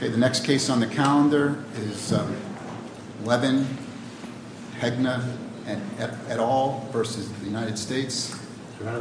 The next case on the calendar is Levin, Hegna, et al. v. United States. Okay,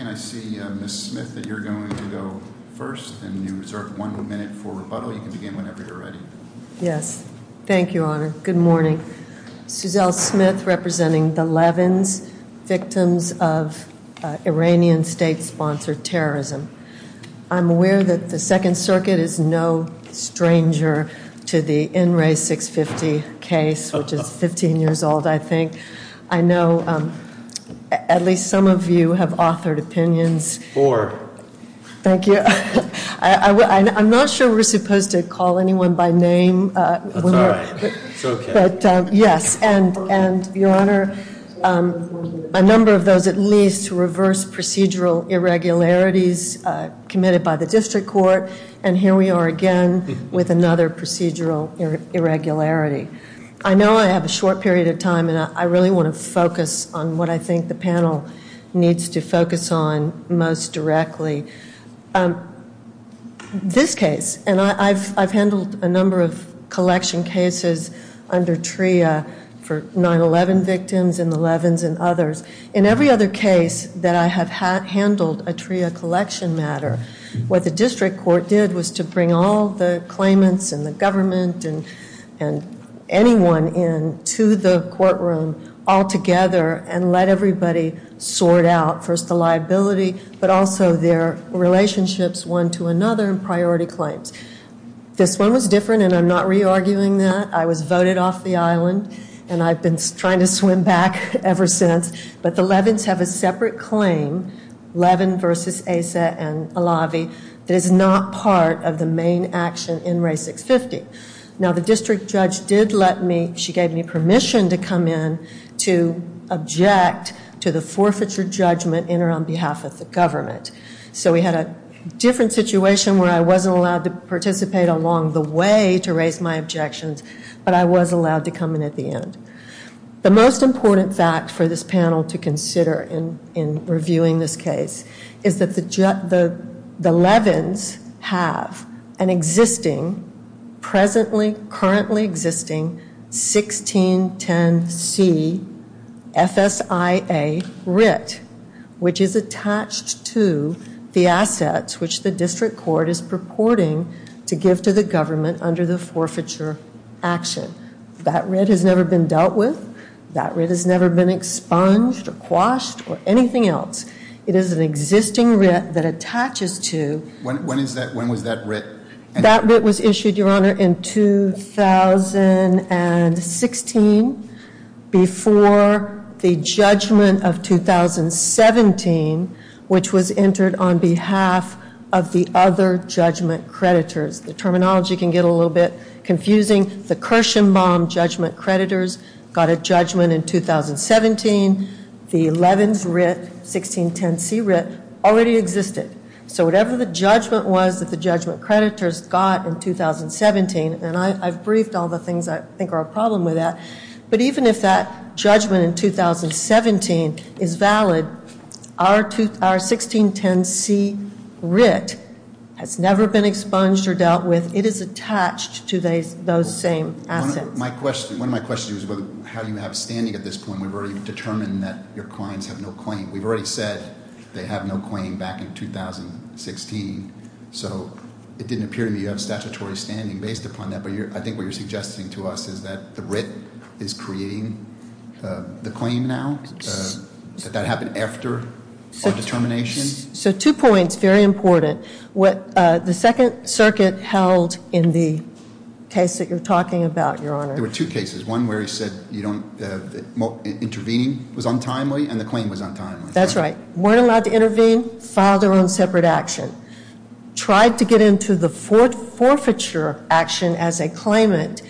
and I see Ms. Smith that you're going to go first, and you reserve one minute for rebuttal. You can begin whenever you're ready. Yes. Thank you, Honor. Good morning. Suzelle Smith, representing the Levins, victims of Iranian state-sponsored terrorism. I'm aware that the Second Circuit is no stranger to the in re. 650 case, which is 15 years old, I think. I know at least some of you have authored opinions. Four. Thank you. I'm not sure we're supposed to call anyone by name. That's all right. It's okay. Yes, and Your Honor, a number of those at least reverse procedural irregularities committed by the district court, and here we are again with another procedural irregularity. I know I have a short period of time, and I really want to focus on what I think the panel needs to focus on most directly. This case, and I've handled a number of collection cases under TRIA for 9-11 victims and the Levins and others. In every other case that I have handled a TRIA collection matter, what the district court did was to bring all the claimants and the government and anyone in to the courtroom altogether and let everybody sort out first the liability, but also their relationships one to another in priority claims. This one was different, and I'm not re-arguing that. I was voted off the island, and I've been trying to swim back ever since, but the Levins have a separate claim, Levin v. Asa and Alavi, that is not part of the main action in Ray 650. Now, the district judge did let me, she gave me permission to come in to object to the forfeiture judgment in or on behalf of the government. So we had a different situation where I wasn't allowed to participate along the way to raise my objections, but I was allowed to come in at the end. The most important fact for this panel to consider in reviewing this case is that the Levins have an existing, presently, currently existing 1610C FSIA writ, which is attached to the assets which the district court is purporting to give to the government under the forfeiture action. That writ has never been dealt with. That writ has never been expunged or quashed or anything else. It is an existing writ that attaches to... When was that writ? That writ was issued, Your Honor, in 2016 before the judgment of 2017, which was entered on behalf of the other judgment creditors. The terminology can get a little bit confusing. The Kirshenbaum judgment creditors got a judgment in 2017. The Levins writ, 1610C writ, already existed. So whatever the judgment was that the judgment creditors got in 2017, and I've briefed all the things I think are a problem with that, but even if that judgment in 2017 is valid, our 1610C writ has never been expunged or dealt with. It is attached to those same assets. One of my questions was about how you have standing at this point. We've already determined that your clients have no claim. We've already said they have no claim back in 2016, so it didn't appear to me you have statutory standing based upon that. I think what you're suggesting to us is that the writ is creating the claim now? Did that happen after our determination? So two points, very important. What the Second Circuit held in the case that you're talking about, Your Honor. There were two cases, one where he said intervening was untimely and the claim was untimely. That's right. Weren't allowed to intervene, filed their own separate action. Tried to get into the forfeiture action as a claimant,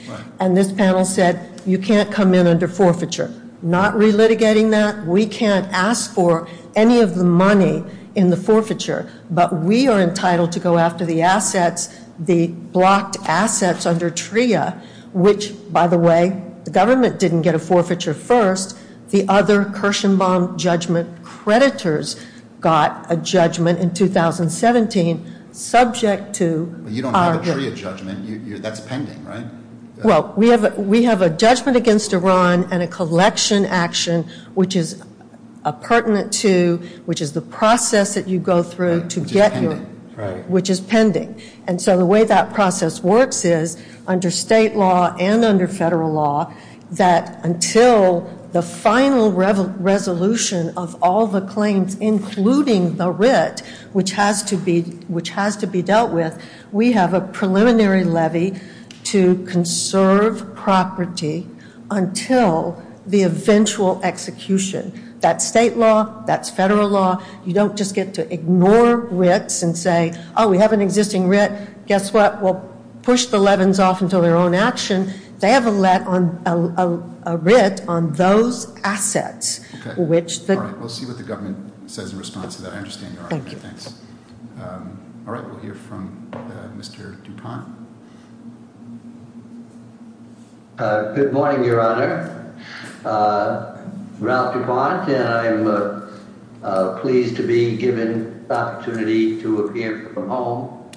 and this panel said you can't come in under forfeiture. Not relitigating that, we can't ask for any of the money in the forfeiture, but we are entitled to go after the assets, the blocked assets under TRIA, which, by the way, the government didn't get a forfeiture first. The other Kirshenbaum judgment creditors got a judgment in 2017 subject to our You don't have a TRIA judgment. That's pending, right? Well, we have a judgment against Iran and a collection action, which is pertinent to, which is the process that you go through to get your Which is pending. state law and under federal law that until the final resolution of all the claims, including the writ, which has to be dealt with, we have a preliminary levy to conserve property until the eventual execution. That's state law. That's federal law. You don't just get to ignore writs and say, oh, we have an existing writ. Guess what? We'll push the leavens off until their own action. They have a let on a writ on those assets, which we'll see what the government says in response to that. I understand. Thank you. All right. We'll hear from Mr. Dupont. Good morning, Your Honor. Ralph Dupont, and I'm pleased to be given the opportunity to appear from home.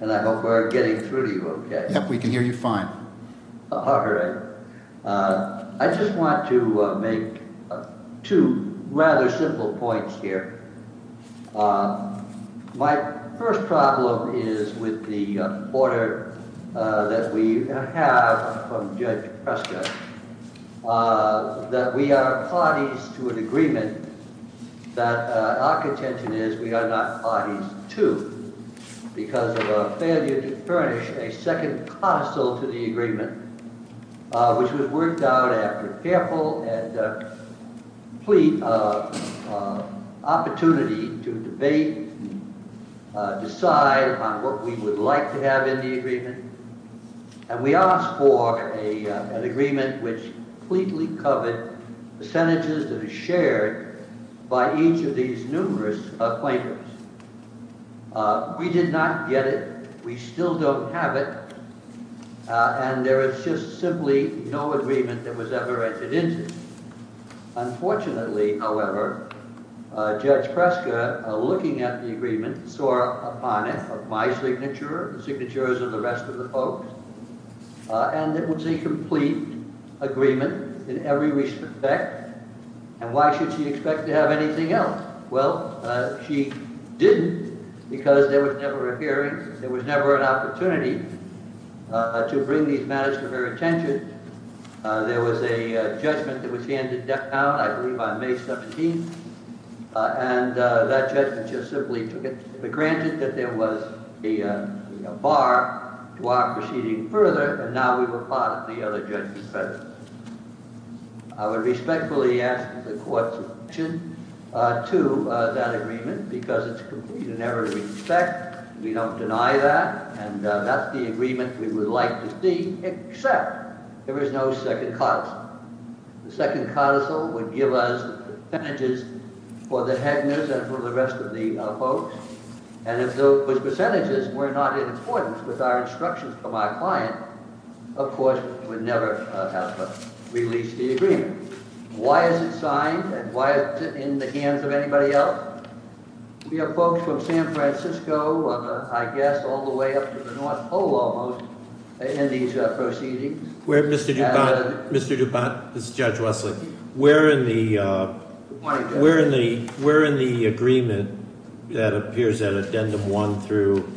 And I hope we're getting through to you OK. We can hear you fine. I just want to make two rather simple points here. My first problem is with the order that we have from Judge Prescott that we are parties to an agreement that our contention is we are not parties to because of our failure to furnish a second codicil to the agreement, which was worked out after careful and complete opportunity to debate, decide on what we would like to have in the agreement. And we asked for an agreement which completely covered percentages that are shared by each of these numerous plaintiffs. We did not get it. We still don't have it. And there is just simply no agreement that was ever entered into. Unfortunately, however, Judge Prescott, looking at the agreement, saw upon it my signature, the signatures of the rest of the folks, and it was a complete agreement in every respect. And why should she expect to have anything else? Well, she didn't because there was never a hearing. There was never an opportunity to bring these matters to her attention. There was a judgment that was handed down, I believe on May 17th, and that judgment just simply took it for granted that there was a bar to our proceeding further. And now we were part of the other judgment. I would respectfully ask the court's objection to that agreement because it's complete in every respect. We don't deny that, and that's the agreement we would like to see, except there is no second codicil. The second codicil would give us percentages for the Hegners and for the rest of the folks. And if those percentages were not in accordance with our instructions from our client, of course, we would never have released the agreement. Why is it signed, and why is it in the hands of anybody else? We have folks from San Francisco, I guess all the way up to the North Pole almost, in these proceedings. Mr. Dubont, this is Judge Wesley. Where in the agreement that appears at addendum one through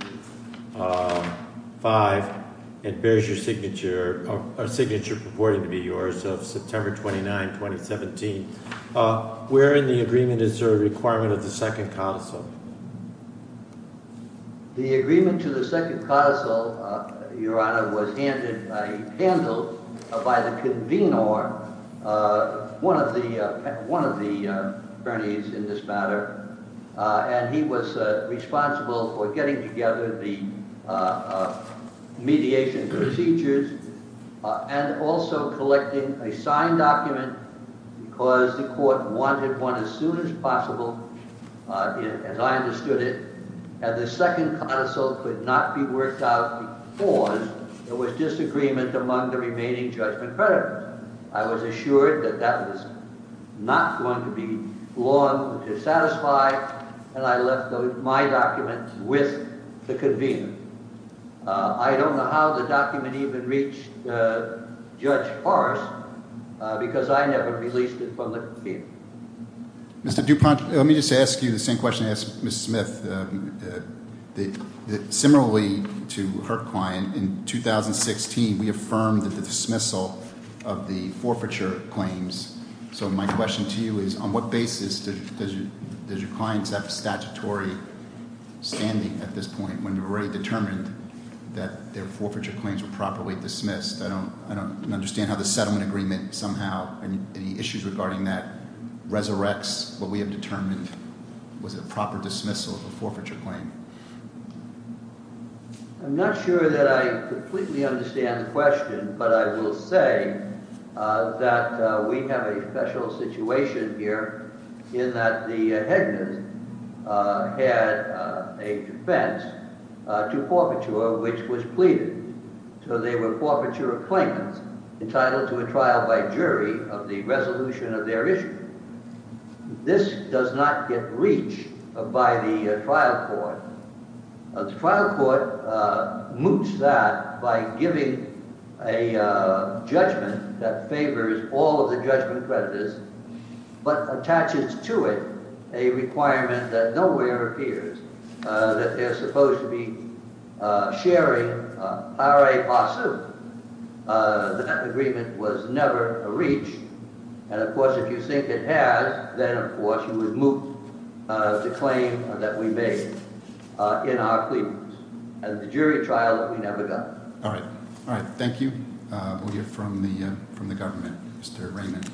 five and bears your signature, or signature purporting to be yours, of September 29, 2017, where in the agreement is there a requirement of the second codicil? The agreement to the second codicil, Your Honor, was handled by the convenor, one of the attorneys in this matter, and he was responsible for getting together the mediation procedures and also collecting a signed document because the court wanted one as soon as possible, as I understood it, and the second codicil could not be worked out before there was disagreement among the remaining judgment creditors. I was assured that that was not going to be long to satisfy, and I left my document with the convener. I don't know how the document even reached Judge Forrest because I never released it from the field. Mr. Dubont, let me just ask you the same question I asked Ms. Smith. Similarly to her client, in 2016, we affirmed the dismissal of the forfeiture claims. So my question to you is, on what basis does your client have statutory standing at this point when we've already determined that their forfeiture claims were properly dismissed? I don't understand how the settlement agreement somehow—any issues regarding that—resurrects what we have determined was a proper dismissal of a forfeiture claim. I'm not sure that I completely understand the question, but I will say that we have a special situation here in that the headman had a defense to forfeiture which was pleaded. So they were forfeiture of claimants entitled to a trial by jury of the resolution of their issue. This does not get reached by the trial court. The trial court moots that by giving a judgment that favors all of the judgment creditors but attaches to it a requirement that nowhere appears that they're supposed to be sharing. That agreement was never reached, and of course if you think it has, then of course you would moot the claim that we made in our pleadings. And the jury trial, we never got. All right. All right. Thank you. We'll hear from the government. Mr. Raymond.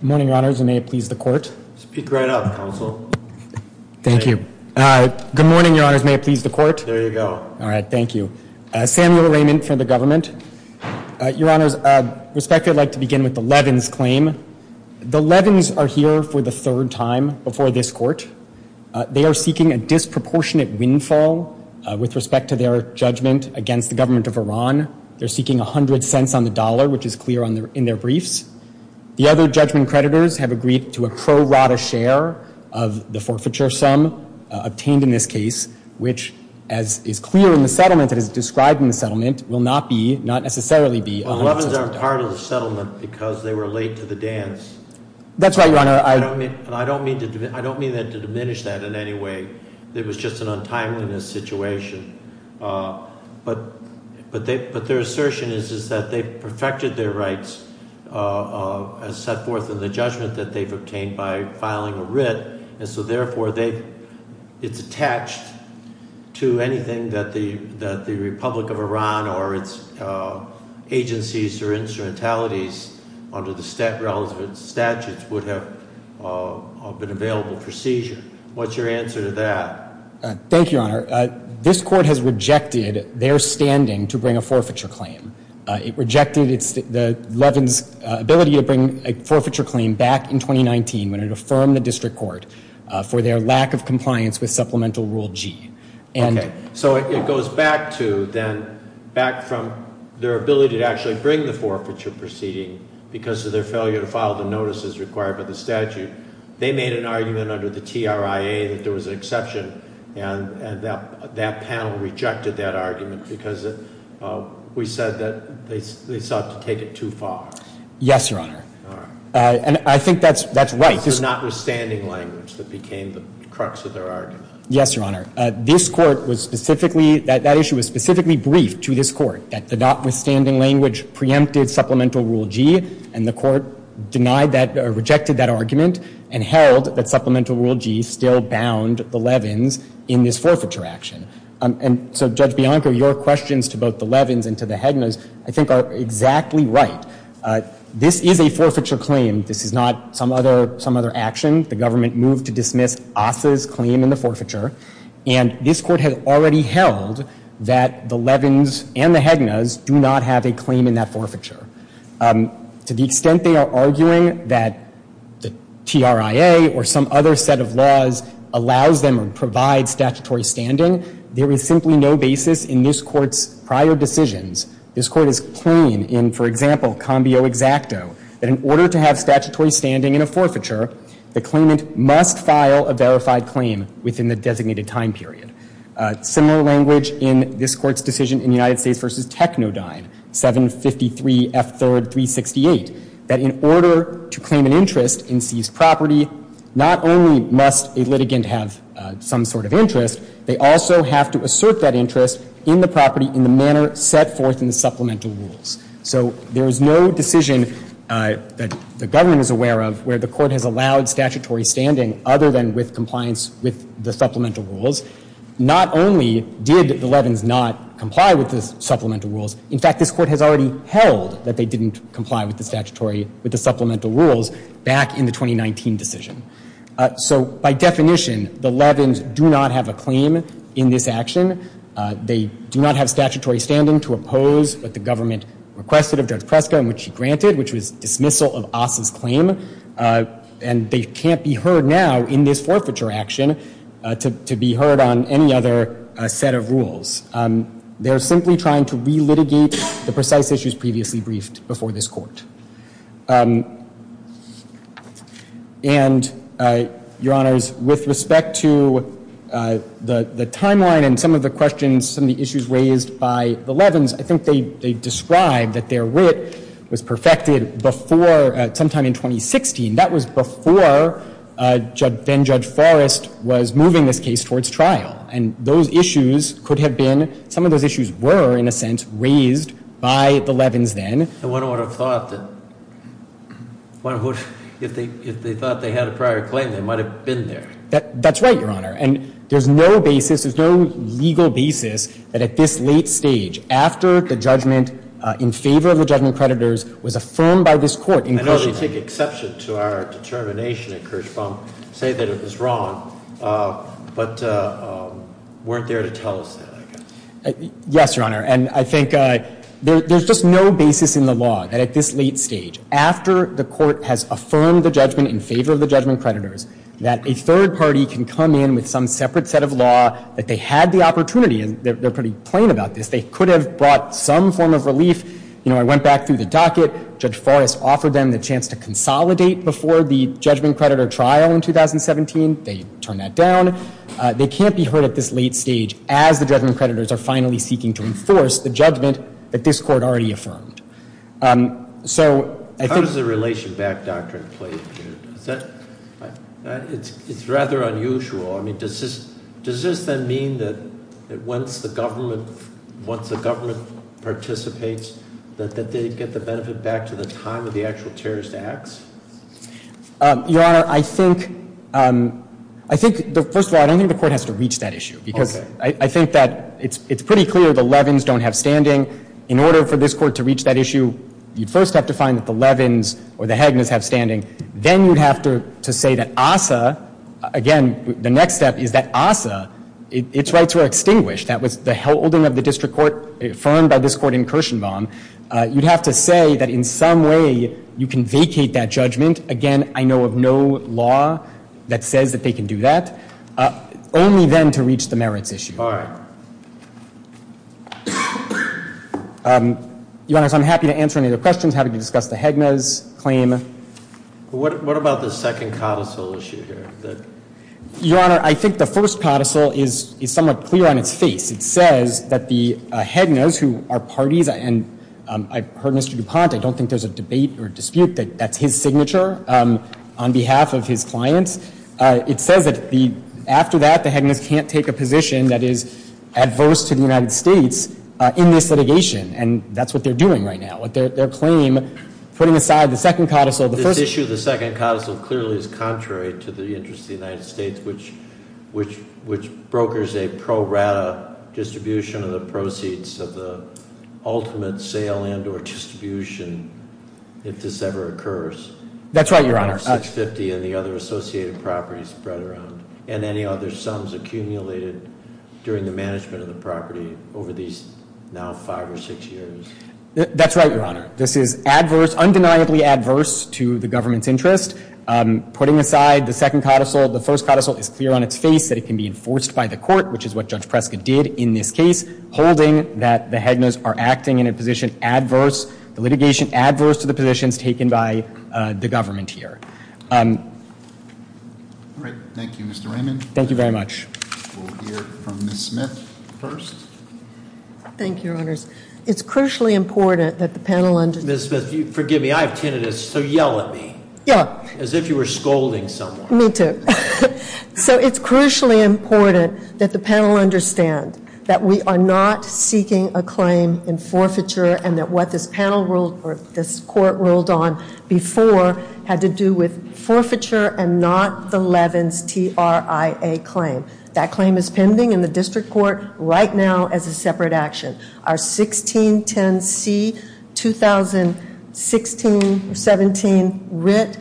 Good morning, Your Honors, and may it please the Court. Speak right up, Counsel. Thank you. Good morning, Your Honors. May it please the Court. There you go. All right. Thank you. Samuel Raymond from the government. Your Honors, with respect, I'd like to begin with the Levins claim. The Levins are here for the third time before this Court. They are seeking a disproportionate windfall with respect to their judgment against the government of Iran. They're seeking 100 cents on the dollar, which is clear in their briefs. The other judgment creditors have agreed to a pro rata share of the forfeiture sum obtained in this case, which, as is clear in the settlement that is described in the settlement, will not be, not necessarily be, 100 cents. The Levins aren't part of the settlement because they were late to the dance. That's right, Your Honor. I don't mean to diminish that in any way. It was just an untimeliness situation. But their assertion is that they've perfected their rights as set forth in the judgment that they've obtained by filing a writ. And so, therefore, it's attached to anything that the Republic of Iran or its agencies or instrumentalities under the relevant statutes would have been available for seizure. What's your answer to that? Thank you, Your Honor. This court has rejected their standing to bring a forfeiture claim. It rejected Levin's ability to bring a forfeiture claim back in 2019 when it affirmed the district court for their lack of compliance with Supplemental Rule G. Okay. So it goes back to then, back from their ability to actually bring the forfeiture proceeding because of their failure to file the notices required by the statute. They made an argument under the TRIA that there was an exception, and that panel rejected that argument because we said that they sought to take it too far. Yes, Your Honor. All right. And I think that's right. It's the notwithstanding language that became the crux of their argument. Yes, Your Honor. This court was specifically – that issue was specifically briefed to this court, that the notwithstanding language preempted Supplemental Rule G, and the court denied that – or rejected that argument and held that Supplemental Rule G still bound the Levins in this forfeiture action. And so, Judge Bianco, your questions to both the Levins and to the Hednas, I think, are exactly right. This is a forfeiture claim. This is not some other action. The government moved to dismiss Assa's claim in the forfeiture, and this court has already held that the Levins and the Hednas do not have a claim in that forfeiture. To the extent they are arguing that the TRIA or some other set of laws allows them or provides statutory standing, there is simply no basis in this court's prior decisions. This court has claimed in, for example, combio exacto, that in order to have statutory standing in a forfeiture, the claimant must file a verified claim within the designated time period. Similar language in this court's decision in United States v. Technodyne, 753 F. 3rd. 368, that in order to claim an interest in seized property, not only must a litigant have some sort of interest, they also have to assert that interest in the property in the manner set forth in the supplemental rules. So there is no decision that the government is aware of where the court has allowed statutory standing other than with compliance with the supplemental rules. Not only did the Levins not comply with the supplemental rules, in fact, this court has already held that they didn't comply with the statutory, with the supplemental rules back in the 2019 decision. So by definition, the Levins do not have a claim in this action. They do not have statutory standing to oppose what the government requested of Judge Preska and which she granted, which was dismissal of Asa's claim. And they can't be heard now in this forfeiture action to be heard on any other set of rules. They are simply trying to relitigate the precise issues previously briefed before this court. And, Your Honors, with respect to the timeline and some of the questions, some of the issues raised by the Levins, I think they described that their wit was perfected before sometime in 2016. That was before then Judge Forrest was moving this case towards trial. And those issues could have been, some of those issues were, in a sense, raised by the Levins then. And one would have thought that if they thought they had a prior claim, they might have been there. That's right, Your Honor. And there's no basis, there's no legal basis that at this late stage, after the judgment in favor of the judgment creditors was affirmed by this court. I know they take exception to our determination at Kirschbaum, say that it was wrong, but weren't there to tell us that, I guess. Yes, Your Honor. And I think there's just no basis in the law that at this late stage, after the court has affirmed the judgment in favor of the judgment creditors, that a third party can come in with some separate set of law that they had the opportunity. And they're pretty plain about this. They could have brought some form of relief. You know, I went back through the docket. Judge Forrest offered them the chance to consolidate before the judgment creditor trial in 2017. They turned that down. They can't be heard at this late stage as the judgment creditors are finally seeking to enforce the judgment that this court already affirmed. How does the relation back doctrine play in here? It's rather unusual. I mean, does this then mean that once the government participates, that they get the benefit back to the time of the actual terrorist acts? Your Honor, I think, first of all, I don't think the court has to reach that issue. Okay. Because I think that it's pretty clear the Levins don't have standing. In order for this court to reach that issue, you'd first have to find that the Levins or the Haginas have standing. Then you'd have to say that ASA, again, the next step is that ASA, its rights were extinguished. That was the holding of the district court affirmed by this court in Kirshenbaum. You'd have to say that in some way you can vacate that judgment. Again, I know of no law that says that they can do that. Only then to reach the merits issue. All right. Your Honor, so I'm happy to answer any other questions. Happy to discuss the Haginas claim. What about the second codicil issue here? Your Honor, I think the first codicil is somewhat clear on its face. It says that the Haginas, who are parties, and I've heard Mr. DuPont. I don't think there's a debate or dispute that that's his signature on behalf of his clients. It says that after that, the Haginas can't take a position that is adverse to the United States in this litigation. And that's what they're doing right now. Their claim, putting aside the second codicil, the first- That clearly is contrary to the interests of the United States, which brokers a pro rata distribution of the proceeds of the ultimate sale and or distribution if this ever occurs. That's right, Your Honor. 650 and the other associated properties spread around. And any other sums accumulated during the management of the property over these now five or six years? That's right, Your Honor. This is adverse, undeniably adverse to the government's interest. Putting aside the second codicil, the first codicil is clear on its face that it can be enforced by the court, which is what Judge Prescott did in this case, holding that the Haginas are acting in a position adverse, the litigation adverse to the positions taken by the government here. All right, thank you, Mr. Raymond. Thank you very much. Thank you, Your Honors. It's crucially important that the panel understand- Ms. Smith, forgive me. I have tinnitus, so yell at me. Yeah. As if you were scolding someone. Me too. So it's crucially important that the panel understand that we are not seeking a claim in forfeiture and that what this panel ruled or this court ruled on before had to do with forfeiture and not the Levin's TRIA claim. That claim is pending in the district court right now as a separate action. Our 1610C-2016-17 writ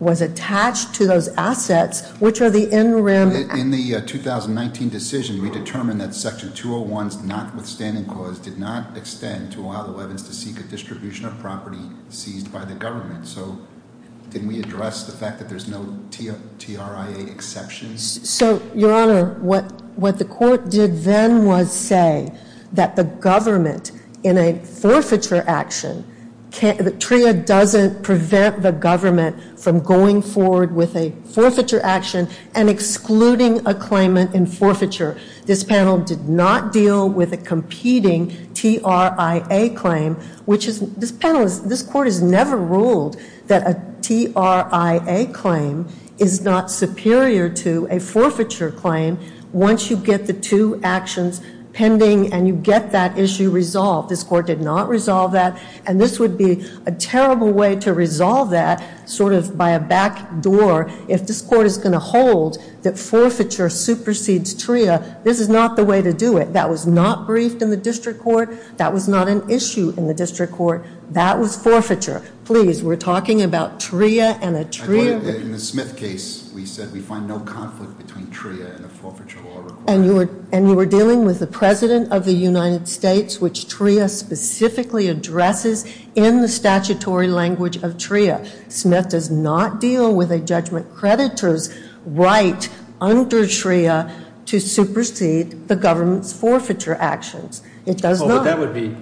was attached to those assets, which are the in rim- In the 2019 decision, we determined that section 201's notwithstanding clause did not extend to allow the Levin's to seek a distribution of property seized by the government. So didn't we address the fact that there's no TRIA exceptions? So, Your Honor, what the court did then was say that the government, in a forfeiture action, TRIA doesn't prevent the government from going forward with a forfeiture action and excluding a claimant in forfeiture. This panel did not deal with a competing TRIA claim, which is- once you get the two actions pending and you get that issue resolved. This court did not resolve that, and this would be a terrible way to resolve that sort of by a back door if this court is going to hold that forfeiture supersedes TRIA. This is not the way to do it. That was not briefed in the district court. That was not an issue in the district court. That was forfeiture. Please, we're talking about TRIA and a TRIA- In the Smith case, we said we find no conflict between TRIA and a forfeiture law required. And you were dealing with the President of the United States, which TRIA specifically addresses in the statutory language of TRIA. Smith does not deal with a judgment creditor's right under TRIA to supersede the government's forfeiture actions. It does not. That would be-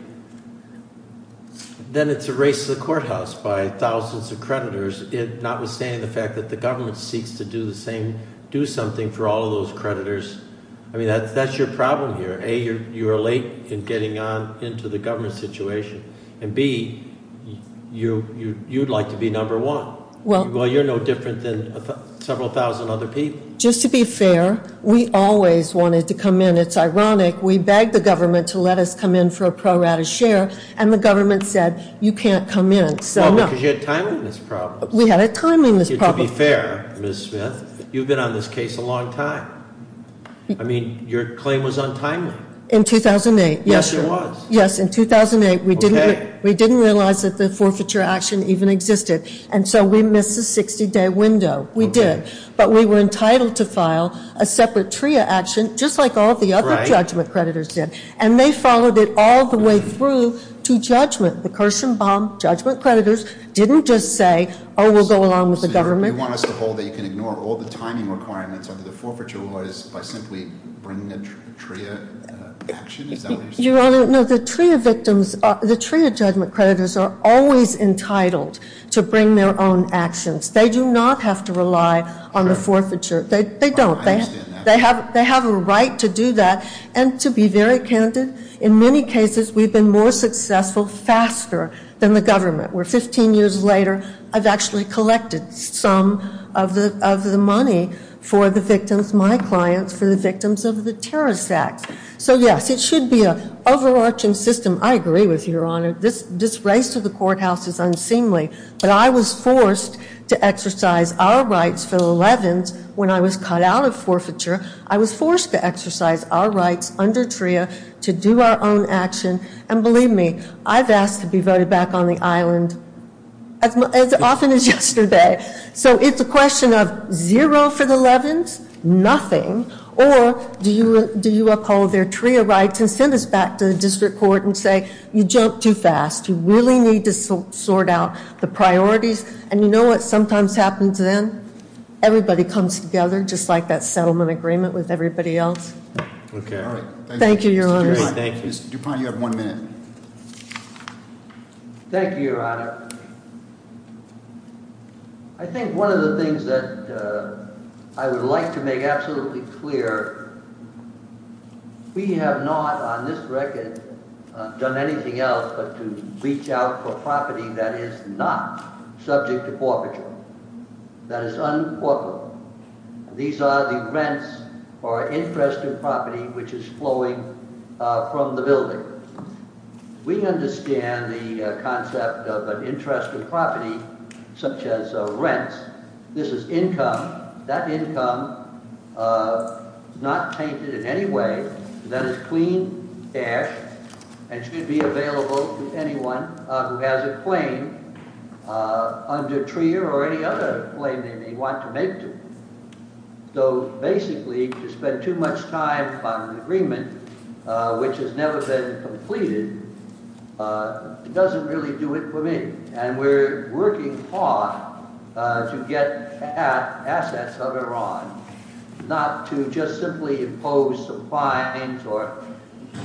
then it's a race to the courthouse by thousands of creditors, notwithstanding the fact that the government seeks to do the same, do something for all of those creditors. I mean, that's your problem here. A, you are late in getting on into the government situation. And B, you'd like to be number one. Well, you're no different than several thousand other people. Just to be fair, we always wanted to come in. And it's ironic, we begged the government to let us come in for a pro rata share. And the government said, you can't come in. Well, because you had timeliness problems. We had a timeliness problem. To be fair, Ms. Smith, you've been on this case a long time. I mean, your claim was untimely. In 2008. Yes, it was. Yes, in 2008. Okay. We didn't realize that the forfeiture action even existed. And so we missed the 60-day window. We did. But we were entitled to file a separate TRIA action, just like all the other judgment creditors did. And they followed it all the way through to judgment. The Kirshenbaum judgment creditors didn't just say, oh, we'll go along with the government. So you want us to hold that you can ignore all the timing requirements under the forfeiture laws by simply bringing a TRIA action? Is that what you're saying? No, the TRIA victims, the TRIA judgment creditors are always entitled to bring their own actions. They do not have to rely on the forfeiture. They don't. I understand that. They have a right to do that. And to be very candid, in many cases we've been more successful faster than the government, where 15 years later I've actually collected some of the money for the victims, my clients, for the victims of the terrorist acts. So, yes, it should be an overarching system. I agree with you, Your Honor. This race to the courthouse is unseemly. But I was forced to exercise our rights for the Leavens when I was cut out of forfeiture. I was forced to exercise our rights under TRIA to do our own action. And believe me, I've asked to be voted back on the island as often as yesterday. So it's a question of zero for the Leavens, nothing, or do you uphold their TRIA rights and send us back to the district court and say, you jumped too fast. You really need to sort out the priorities. And you know what sometimes happens then? Everybody comes together just like that settlement agreement with everybody else. Okay. Thank you, Your Honor. Thank you. Mr. Dupont, you have one minute. Thank you, Your Honor. I think one of the things that I would like to make absolutely clear, we have not on this record done anything else but to reach out for property that is not subject to forfeiture, that is un-forfeitable. These are the rents or interest in property which is flowing from the building. We understand the concept of an interest in property such as rents. This is income. That income is not tainted in any way. That is clean air and should be available to anyone who has a claim under TRIA or any other claim they may want to make to it. So basically to spend too much time on an agreement which has never been completed doesn't really do it for me. And we're working hard to get at assets of Iran, not to just simply impose some fines or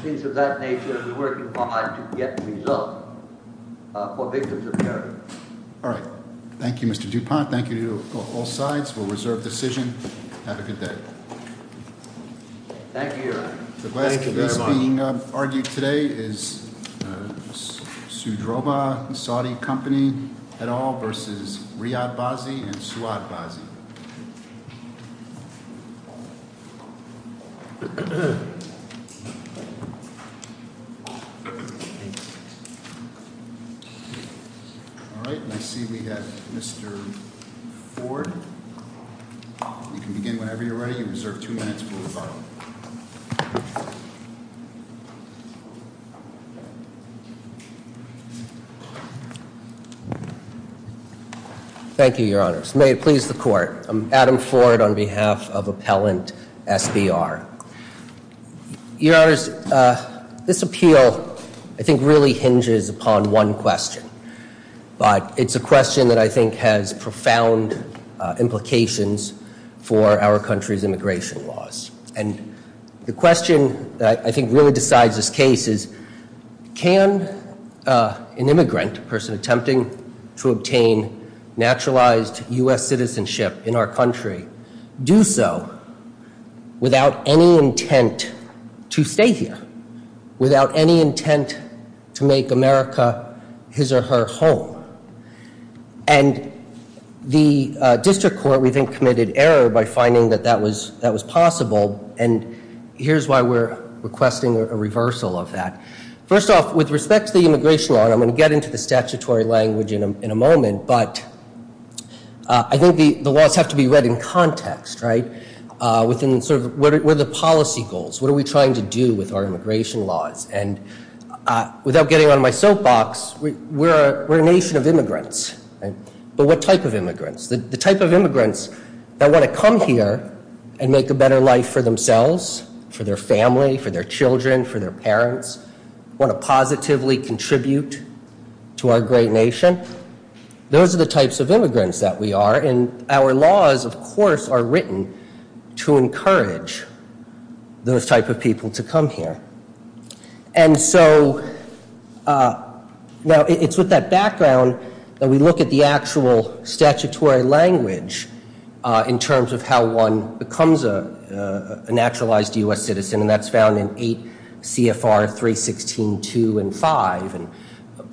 things of that nature. We're working hard to get results for victims of terrorism. All right. Thank you, Mr. Dupont. Thank you to all sides for a reserved decision. Have a good day. Thank you, Your Honor. Thank you very much. The case being argued today is Sudroba and Saudi Company et al. versus Riyad Bazzi and Suad Bazzi. All right. I see we have Mr. Ford. You can begin whenever you're ready. You reserve two minutes for rebuttal. Thank you. Thank you, Your Honors. May it please the Court. I'm Adam Ford on behalf of Appellant SBR. Your Honors, this appeal I think really hinges upon one question, but it's a question that I think has profound implications for our country's immigration laws. The question that I think really decides this case is can an immigrant, a person attempting to obtain naturalized U.S. citizenship in our country, do so without any intent to stay here, without any intent to make America his or her home? And the district court, we think, committed error by finding that that was possible, and here's why we're requesting a reversal of that. First off, with respect to the immigration law, and I'm going to get into the statutory language in a moment, but I think the laws have to be read in context, right? Within sort of what are the policy goals? What are we trying to do with our immigration laws? Without getting on my soapbox, we're a nation of immigrants. But what type of immigrants? The type of immigrants that want to come here and make a better life for themselves, for their family, for their children, for their parents, want to positively contribute to our great nation, those are the types of immigrants that we are, and our laws, of course, are written to encourage those type of people to come here. And so now it's with that background that we look at the actual statutory language in terms of how one becomes a naturalized U.S. citizen, and that's found in 8 CFR 316.2 and 5.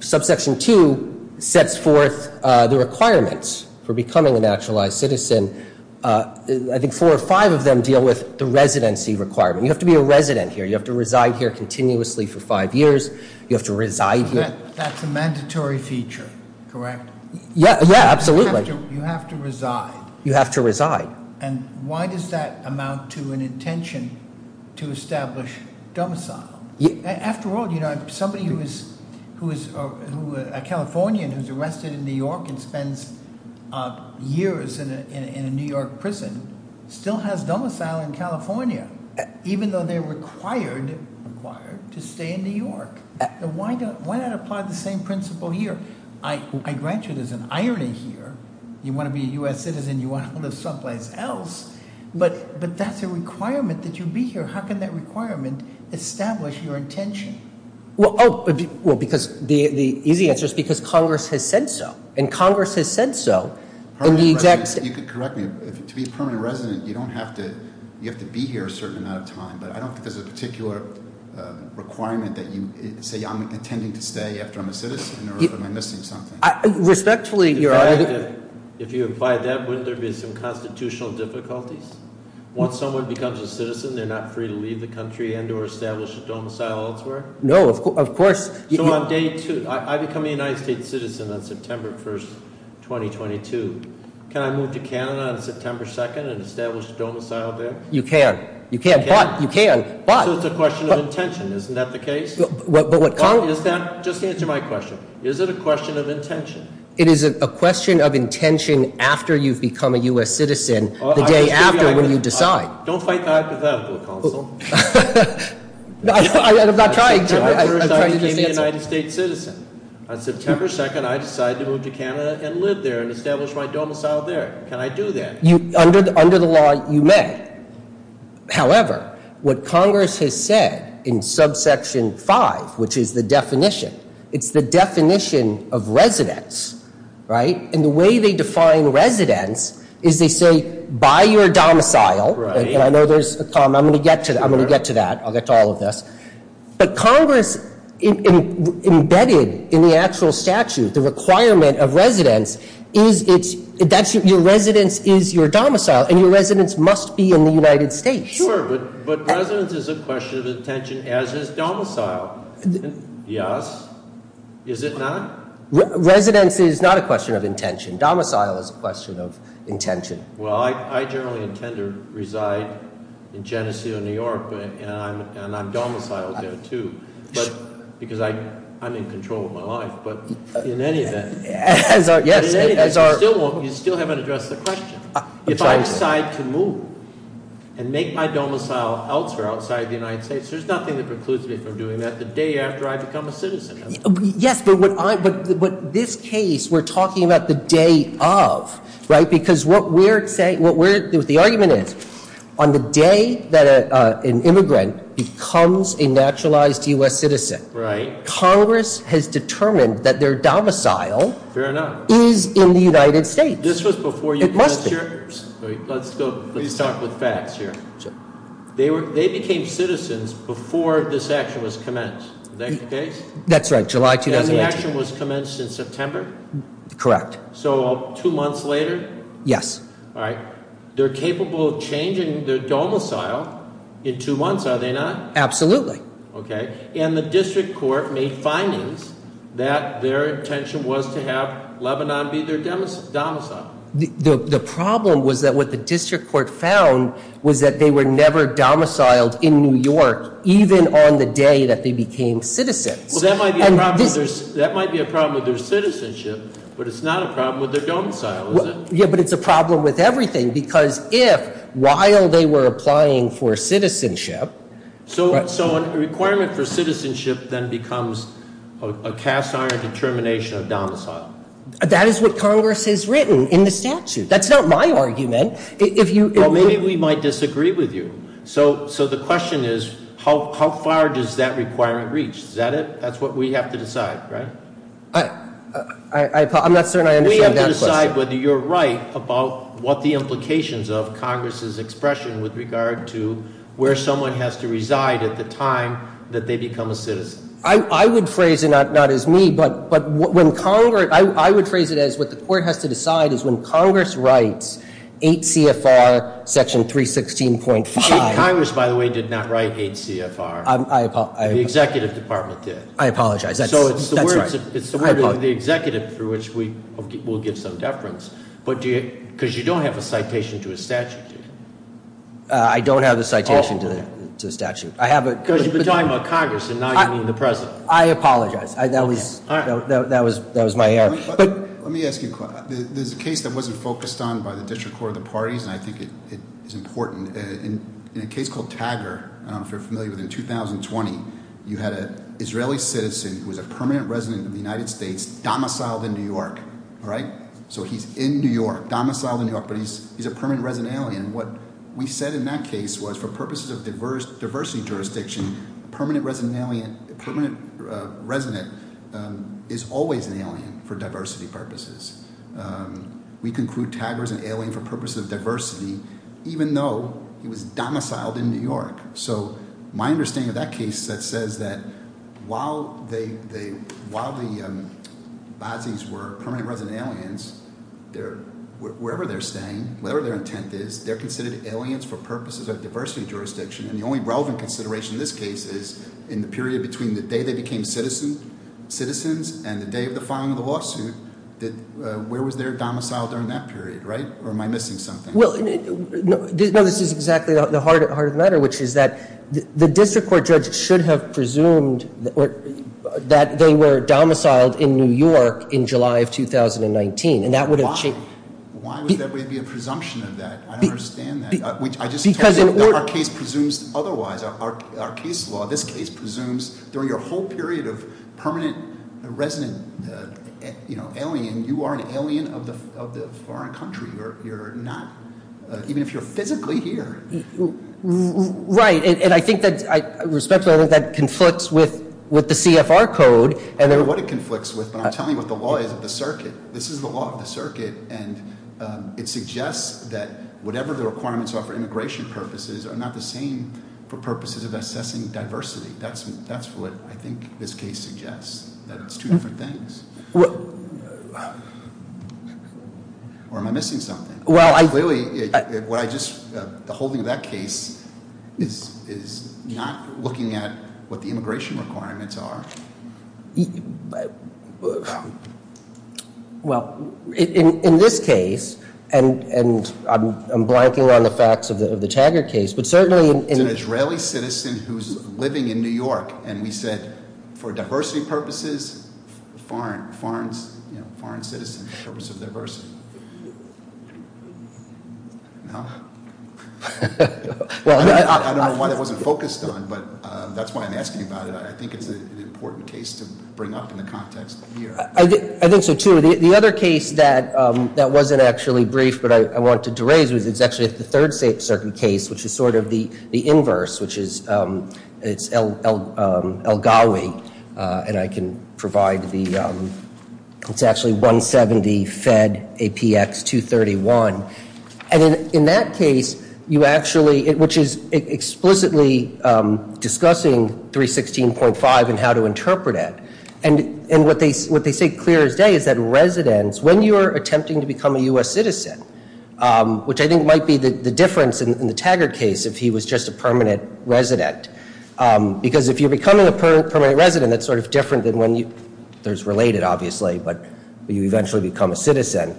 Subsection 2 sets forth the requirements for becoming a naturalized citizen. I think four or five of them deal with the residency requirement. You have to be a resident here. You have to reside here continuously for five years. You have to reside here. That's a mandatory feature, correct? Yeah, absolutely. You have to reside. You have to reside. And why does that amount to an intention to establish domicile? After all, somebody who is a Californian who's arrested in New York and spends years in a New York prison still has domicile in California, even though they're required to stay in New York. Why not apply the same principle here? I grant you there's an irony here. You want to be a U.S. citizen, you want to live someplace else, but that's a requirement that you be here. How can that requirement establish your intention? Well, because the easy answer is because Congress has said so, and Congress has said so. You could correct me. To be a permanent resident, you have to be here a certain amount of time, but I don't think there's a particular requirement that you say, I'm intending to stay after I'm a citizen or am I missing something? Respectfully, your honor. If you apply that, wouldn't there be some constitutional difficulties? Once someone becomes a citizen, they're not free to leave the country and or establish a domicile elsewhere? No, of course. So on day two, I become a United States citizen on September 1st, 2022. Can I move to Canada on September 2nd and establish a domicile there? You can. You can, but. So it's a question of intention. Isn't that the case? Just answer my question. Is it a question of intention? It is a question of intention after you've become a U.S. citizen. The day after when you decide. Don't fight the hypothetical, counsel. I'm not trying to. I'm trying to just answer. I became a United States citizen on September 2nd. I decided to move to Canada and live there and establish my domicile there. Can I do that? Under the law, you may. However, what Congress has said in subsection five, which is the definition, it's the definition of residence, right? And the way they define residence is they say, buy your domicile. Right. And I know there's a comment. I'm going to get to that. I'm going to get to that. I'll get to all of this. But Congress embedded in the actual statute, the requirement of residence, is your residence is your domicile, and your residence must be in the United States. Sure, but residence is a question of intention, as is domicile. Yes. Is it not? Residence is not a question of intention. Domicile is a question of intention. Well, I generally intend to reside in Geneseo, New York, and I'm domiciled there, too, because I'm in control of my life. But in any event, you still haven't addressed the question. If I decide to move and make my domicile elsewhere outside the United States, there's nothing that precludes me from doing that the day after I become a citizen. Yes, but what this case we're talking about the day of, right, because what we're saying, what the argument is, on the day that an immigrant becomes a naturalized U.S. citizen, Congress has determined that their domicile is in the United States. It must be. Let's start with facts here. They became citizens before this action was commenced. Is that the case? That's right, July 2018. And the action was commenced in September? Correct. So two months later? Yes. All right. They're capable of changing their domicile in two months, are they not? Absolutely. Okay. And the district court made findings that their intention was to have Lebanon be their domicile. The problem was that what the district court found was that they were never domiciled in New York, even on the day that they became citizens. Well, that might be a problem with their citizenship, but it's not a problem with their domicile, is it? Yeah, but it's a problem with everything, because if, while they were applying for citizenship. So a requirement for citizenship then becomes a cast-iron determination of domicile. That is what Congress has written in the statute. That's not my argument. Well, maybe we might disagree with you. So the question is, how far does that requirement reach? Is that it? That's what we have to decide, right? I'm not certain I understand that question. We have to decide whether you're right about what the implications of Congress's expression with regard to where someone has to reside at the time that they become a citizen. I would phrase it not as me, but I would phrase it as what the court has to decide is when Congress writes 8 CFR section 316.5. Congress, by the way, did not write 8 CFR. The executive department did. I apologize. That's right. It's the word of the executive for which we'll give some deference, because you don't have a citation to a statute. I don't have a citation to a statute. Because you've been talking about Congress, and now you mean the President. I apologize. That was my error. Let me ask you a question. There's a case that wasn't focused on by the District Court of the Parties, and I think it is important. In a case called Tagger, I don't know if you're familiar with it, in 2020, you had an Israeli citizen who was a permanent resident of the United States domiciled in New York. All right? So he's in New York, domiciled in New York, but he's a permanent resident alien. And what we said in that case was for purposes of diversity jurisdiction, a permanent resident is always an alien for diversity purposes. We conclude Tagger is an alien for purposes of diversity, even though he was domiciled in New York. So my understanding of that case that says that while the Bazzi's were permanent resident aliens, wherever they're staying, whatever their intent is, they're considered aliens for purposes of diversity jurisdiction. And the only relevant consideration in this case is in the period between the day they became citizens and the day of the filing of the lawsuit, where was their domicile during that period, right? Or am I missing something? Well, no, this is exactly the heart of the matter, which is that the district court judge should have presumed that they were domiciled in New York in July of 2019. And that would have- Why would there be a presumption of that? I don't understand that. I just told you that our case presumes otherwise. Our case law, this case presumes during your whole period of permanent resident alien, you are an alien of the foreign country. You're not, even if you're physically here. Right, and I think that, respectfully, I think that conflicts with the CFR code. I don't know what it conflicts with, but I'm telling you what the law is of the circuit. This is the law of the circuit, and it suggests that whatever the requirements are for immigration purposes are not the same for purposes of assessing diversity. That's what I think this case suggests, that it's two different things. Or am I missing something? Well, I- Clearly, what I just, the holding of that case is not looking at what the immigration requirements are. Well, in this case, and I'm blanking on the facts of the Taggart case, but certainly- An Israeli citizen who's living in New York, and we said, for diversity purposes, foreign citizens, for the purpose of diversity. I don't know why that wasn't focused on, but that's why I'm asking about it. I think it's an important case to bring up in the context of the year. I think so, too. The other case that wasn't actually brief, but I wanted to raise, is actually the Third Circuit case, which is sort of the inverse, which is El Gawi. And I can provide the, it's actually 170 Fed APX 231. And in that case, you actually, which is explicitly discussing 316.5 and how to interpret it. And what they say clear as day is that residents, when you're attempting to become a U.S. citizen, which I think might be the difference in the Taggart case if he was just a permanent resident, because if you're becoming a permanent resident, that's sort of different than when you, there's related, obviously, but you eventually become a citizen.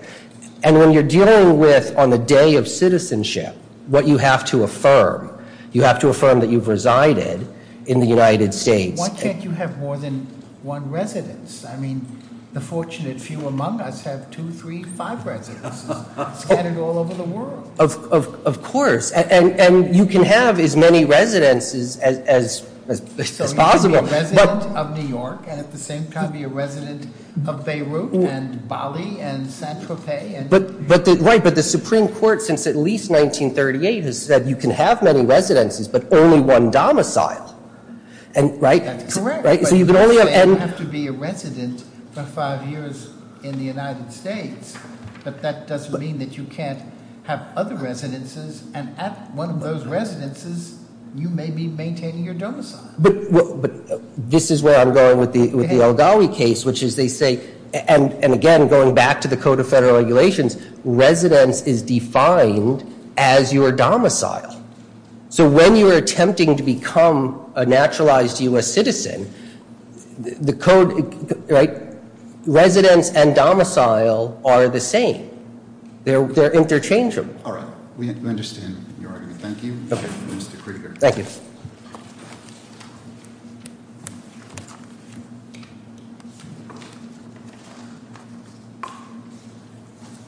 And when you're dealing with, on the day of citizenship, what you have to affirm, you have to affirm that you've resided in the United States. Why can't you have more than one residence? I mean, the fortunate few among us have two, three, five residences scattered all over the world. Of course. And you can have as many residences as possible. So you can be a resident of New York and at the same time be a resident of Beirut and Bali and St. Tropez. Right, but the Supreme Court, since at least 1938, has said you can have many residences but only one domicile. And, right? That's correct. Right? So you can only have, and- So you don't have to be a resident for five years in the United States, but that doesn't mean that you can't have other residences, and at one of those residences, you may be maintaining your domicile. But this is where I'm going with the El Gawi case, which is they say, and again, going back to the Code of Federal Regulations, residence is defined as your domicile. So when you are attempting to become a naturalized U.S. citizen, the code, right, residence and domicile are the same. They're interchangeable. All right. We understand your argument. Thank you. Mr. Krieger. Thank you.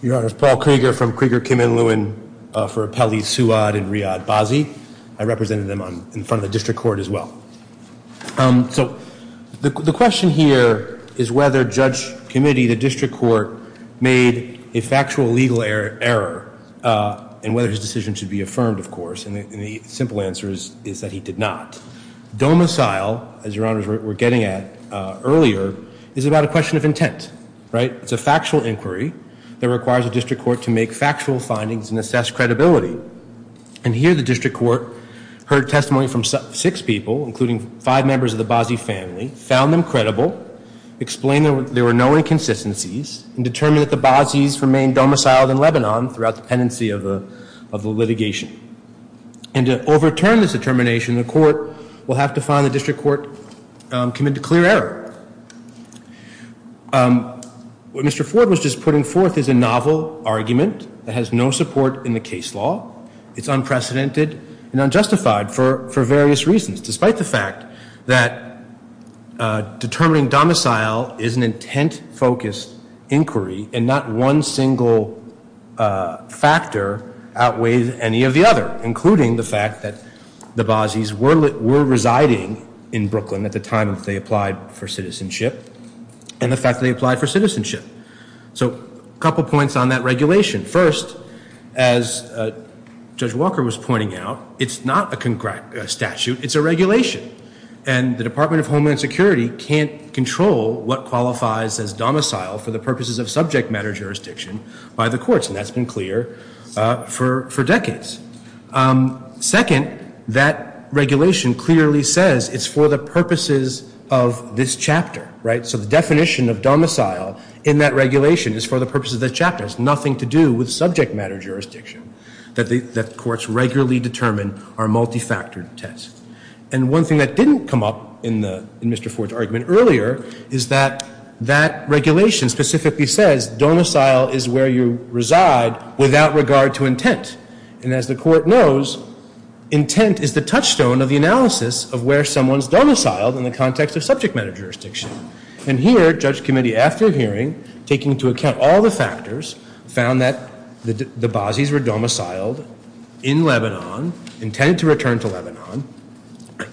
Your Honor, it's Paul Krieger from Krieger, Kim, and Lewin for Appellees Suad and Riyad Bazzi. I represented them in front of the district court as well. So the question here is whether Judge Committee, the district court, made a factual legal error and whether his decision should be affirmed, of course, Domicile, as Your Honors were getting at earlier, is about a question of intent, right? It's a factual inquiry that requires a district court to make factual findings and assess credibility. And here the district court heard testimony from six people, including five members of the Bazzi family, found them credible, explained there were no inconsistencies, and determined that the Bazzi's remained domiciled in Lebanon throughout the pendency of the litigation. And to overturn this determination, the court will have to find the district court committed to clear error. What Mr. Ford was just putting forth is a novel argument that has no support in the case law. It's unprecedented and unjustified for various reasons, despite the fact that determining domicile is an intent-focused inquiry and not one single factor outweighs any of the other, including the fact that the Bazzi's were residing in Brooklyn at the time that they applied for citizenship and the fact that they applied for citizenship. So a couple points on that regulation. First, as Judge Walker was pointing out, it's not a statute, it's a regulation. And the Department of Homeland Security can't control what qualifies as domicile for the purposes of subject matter jurisdiction by the courts, and that's been clear for decades. Second, that regulation clearly says it's for the purposes of this chapter, right? So the definition of domicile in that regulation is for the purposes of this chapter. It has nothing to do with subject matter jurisdiction that the courts regularly determine are multifactored tests. And one thing that didn't come up in Mr. Ford's argument earlier is that that regulation specifically says domicile is where you reside without regard to intent. And as the court knows, intent is the touchstone of the analysis of where someone's domiciled in the context of subject matter jurisdiction. And here, Judge Committee, after hearing, taking into account all the factors, found that the Bazis were domiciled in Lebanon, intended to return to Lebanon,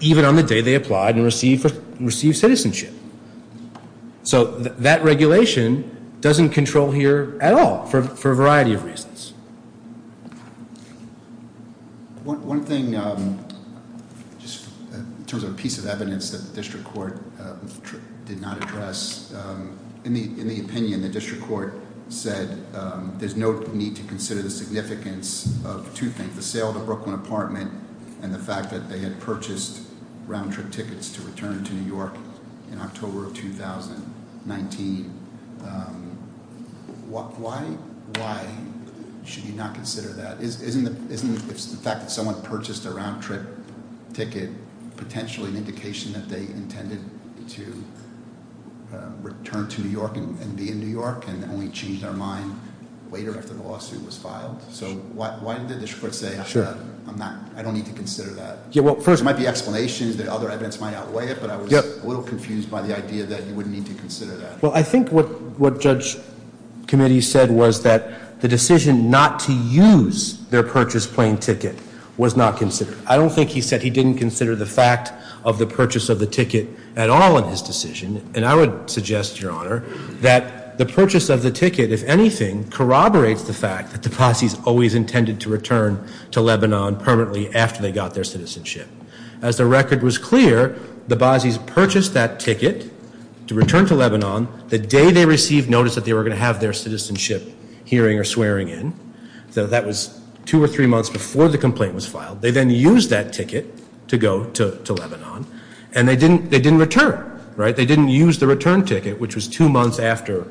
even on the day they applied and received citizenship. So that regulation doesn't control here at all for a variety of reasons. One thing, just in terms of a piece of evidence that the district court did not address, in the opinion the district court said there's no need to consider the significance of two things, the sale of the Brooklyn apartment and the fact that they had purchased round-trip tickets to return to New York in October of 2019. Why should you not consider that? Isn't the fact that someone purchased a round-trip ticket potentially an indication that they intended to return to New York and be in New York and only changed their mind later after the lawsuit was filed? So why did the district court say I don't need to consider that? There might be explanations that other evidence might outweigh it, but I was a little confused by the idea that you wouldn't need to consider that. Well, I think what Judge Committee said was that the decision not to use their purchased plane ticket was not considered. I don't think he said he didn't consider the fact of the purchase of the ticket at all in his decision, and I would suggest, Your Honor, that the purchase of the ticket, if anything, corroborates the fact that the Basis always intended to return to Lebanon permanently after they got their citizenship. As the record was clear, the Basis purchased that ticket to return to Lebanon the day they received notice that they were going to have their citizenship hearing or swearing in. So that was two or three months before the complaint was filed. They then used that ticket to go to Lebanon, and they didn't return, right? They didn't use the return ticket, which was two months after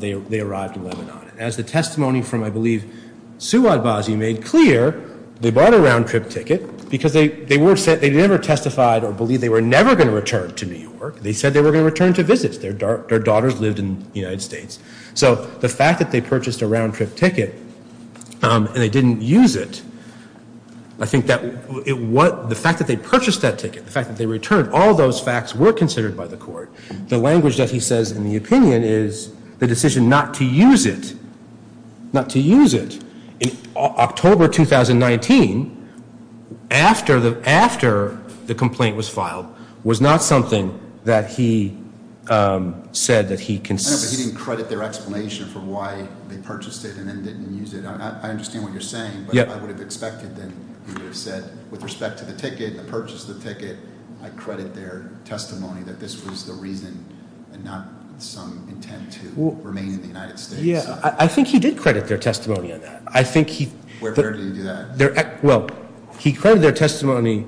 they arrived in Lebanon. As the testimony from, I believe, Suad Basi made clear, they bought a round-trip ticket because they never testified or believed they were never going to return to New York. They said they were going to return to visit. Their daughters lived in the United States. So the fact that they purchased a round-trip ticket and they didn't use it, I think that the fact that they purchased that ticket, the fact that they returned, all those facts were considered by the court. The language that he says in the opinion is the decision not to use it, not to use it. In October 2019, after the complaint was filed, was not something that he said that he considered. I know, but he didn't credit their explanation for why they purchased it and then didn't use it. I understand what you're saying, but I would have expected that he would have said, with respect to the ticket, the purchase of the ticket, I credit their testimony that this was the reason and not some intent to remain in the United States. I think he did credit their testimony on that. Where did he do that? Well, he credited their testimony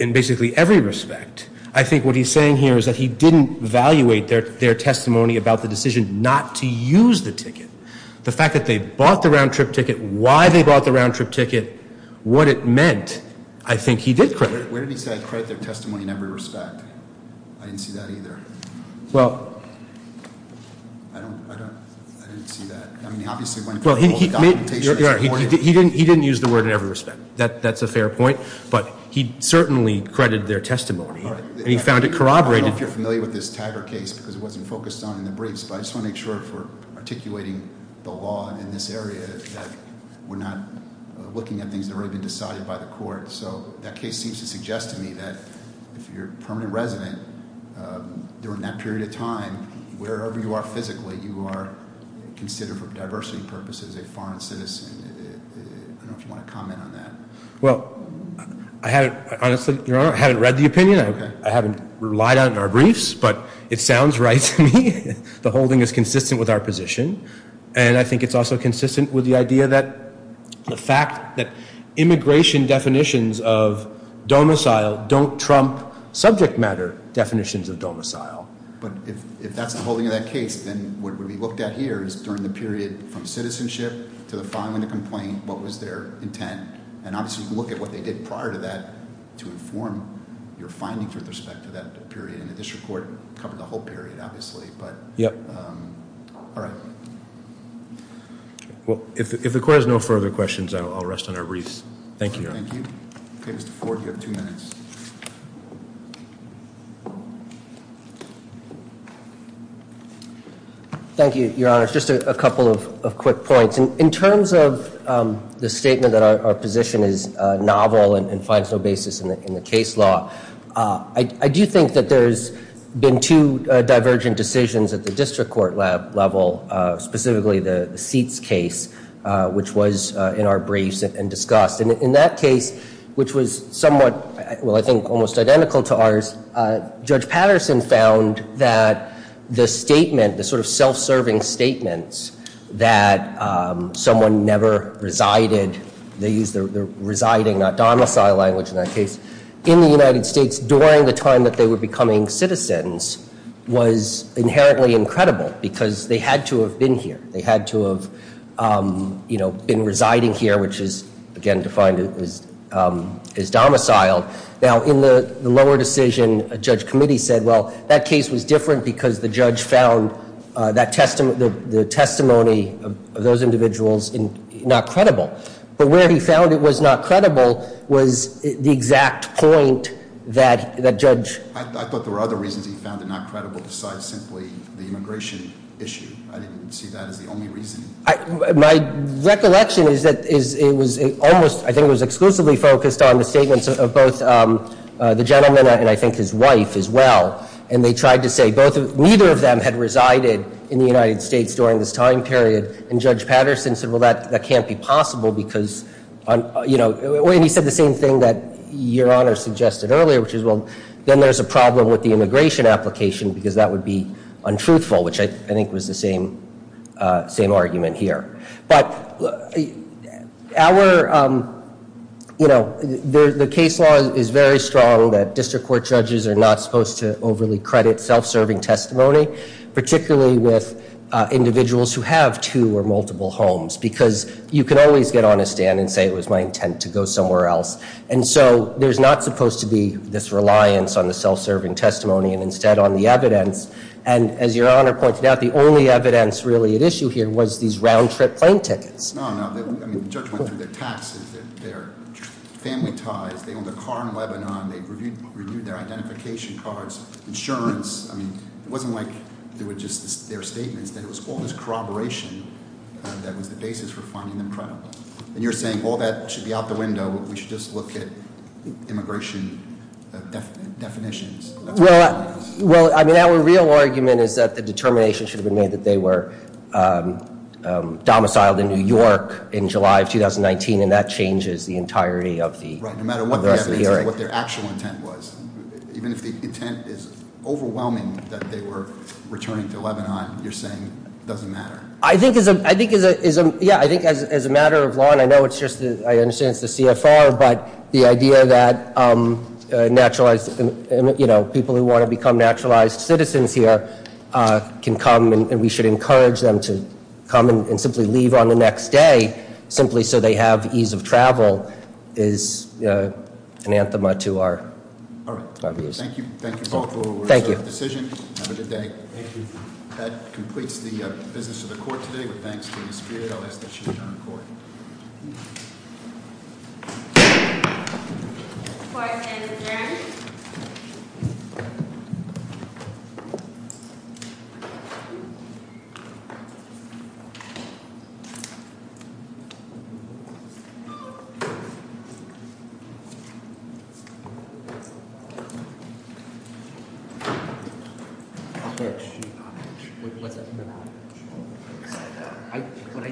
in basically every respect. I think what he's saying here is that he didn't evaluate their testimony about the decision not to use the ticket. The fact that they bought the round-trip ticket, why they bought the round-trip ticket, what it meant, I think he did credit. Where did he say I credit their testimony in every respect? I didn't see that either. Well, he didn't use the word in every respect. That's a fair point. But he certainly credited their testimony, and he found it corroborated. I don't know if you're familiar with this Taggart case because it wasn't focused on in the briefs, but I just want to make sure if we're articulating the law in this area that we're not looking at things that have already been decided by the court. So that case seems to suggest to me that if you're a permanent resident, during that period of time, wherever you are physically, you are considered for diversity purposes a foreign citizen. I don't know if you want to comment on that. Well, honestly, Your Honor, I haven't read the opinion. I haven't relied on it in our briefs, but it sounds right to me. The holding is consistent with our position. And I think it's also consistent with the idea that the fact that immigration definitions of domicile don't trump subject matter definitions of domicile. But if that's the holding of that case, then what we looked at here is during the period from citizenship to the filing of the complaint, what was their intent? And obviously you can look at what they did prior to that to inform your findings with respect to that period. And the district court covered the whole period, obviously. But all right. Well, if the court has no further questions, I'll rest on our briefs. Thank you, Your Honor. Thank you. Okay, Mr. Ford, you have two minutes. Thank you, Your Honor. Just a couple of quick points. In terms of the statement that our position is novel and finds no basis in the case law, I do think that there's been two divergent decisions at the district court level, specifically the seats case, which was in our briefs and discussed. And in that case, which was somewhat, well, I think almost identical to ours, Judge Patterson found that the statement, the sort of self-serving statements that someone never resided, they used the residing, not domicile language in that case, in the United States during the time that they were becoming citizens was inherently incredible because they had to have been here. They had to have been residing here, which is, again, defined as domiciled. Now, in the lower decision, a judge committee said, well, that case was different because the judge found the testimony of those individuals not credible. But where he found it was not credible was the exact point that judge- I thought there were other reasons he found it not credible besides simply the immigration issue. I didn't see that as the only reason. My recollection is that it was almost, I think it was exclusively focused on the statements of both the gentleman and I think his wife as well. And they tried to say neither of them had resided in the United States during this time period. And Judge Patterson said, well, that can't be possible because- and he said the same thing that Your Honor suggested earlier, which is, well, then there's a problem with the immigration application because that would be untruthful, which I think was the same argument here. But our- you know, the case law is very strong that district court judges are not supposed to overly credit self-serving testimony, particularly with individuals who have two or multiple homes because you can always get on a stand and say it was my intent to go somewhere else. And so there's not supposed to be this reliance on the self-serving testimony and instead on the evidence. And as Your Honor pointed out, the only evidence really at issue here was these round-trip plane tickets. No, no. I mean, the judge went through their taxes, their family ties. They owned a car in Lebanon. They reviewed their identification cards, insurance. I mean, it wasn't like there were just their statements. There was all this corroboration that was the basis for finding them credible. And you're saying, well, that should be out the window. We should just look at immigration definitions. Well, I mean, our real argument is that the determination should have been made that they were domiciled in New York in July of 2019. And that changes the entirety of the- Right, no matter what the evidence is or what their actual intent was. Even if the intent is overwhelming that they were returning to Lebanon, you're saying it doesn't matter. I think as a matter of law, and I know it's just, I understand it's the CFR, but the idea that naturalized, you know, people who want to become naturalized citizens here can come and we should encourage them to come and simply leave on the next day, simply so they have ease of travel is an anthem to our views. All right. Thank you. Thank you both for your decision. Thank you. Have a good day. Thank you. That completes the business of the court today. I ask that you adjourn the court. The court is adjourned. All right.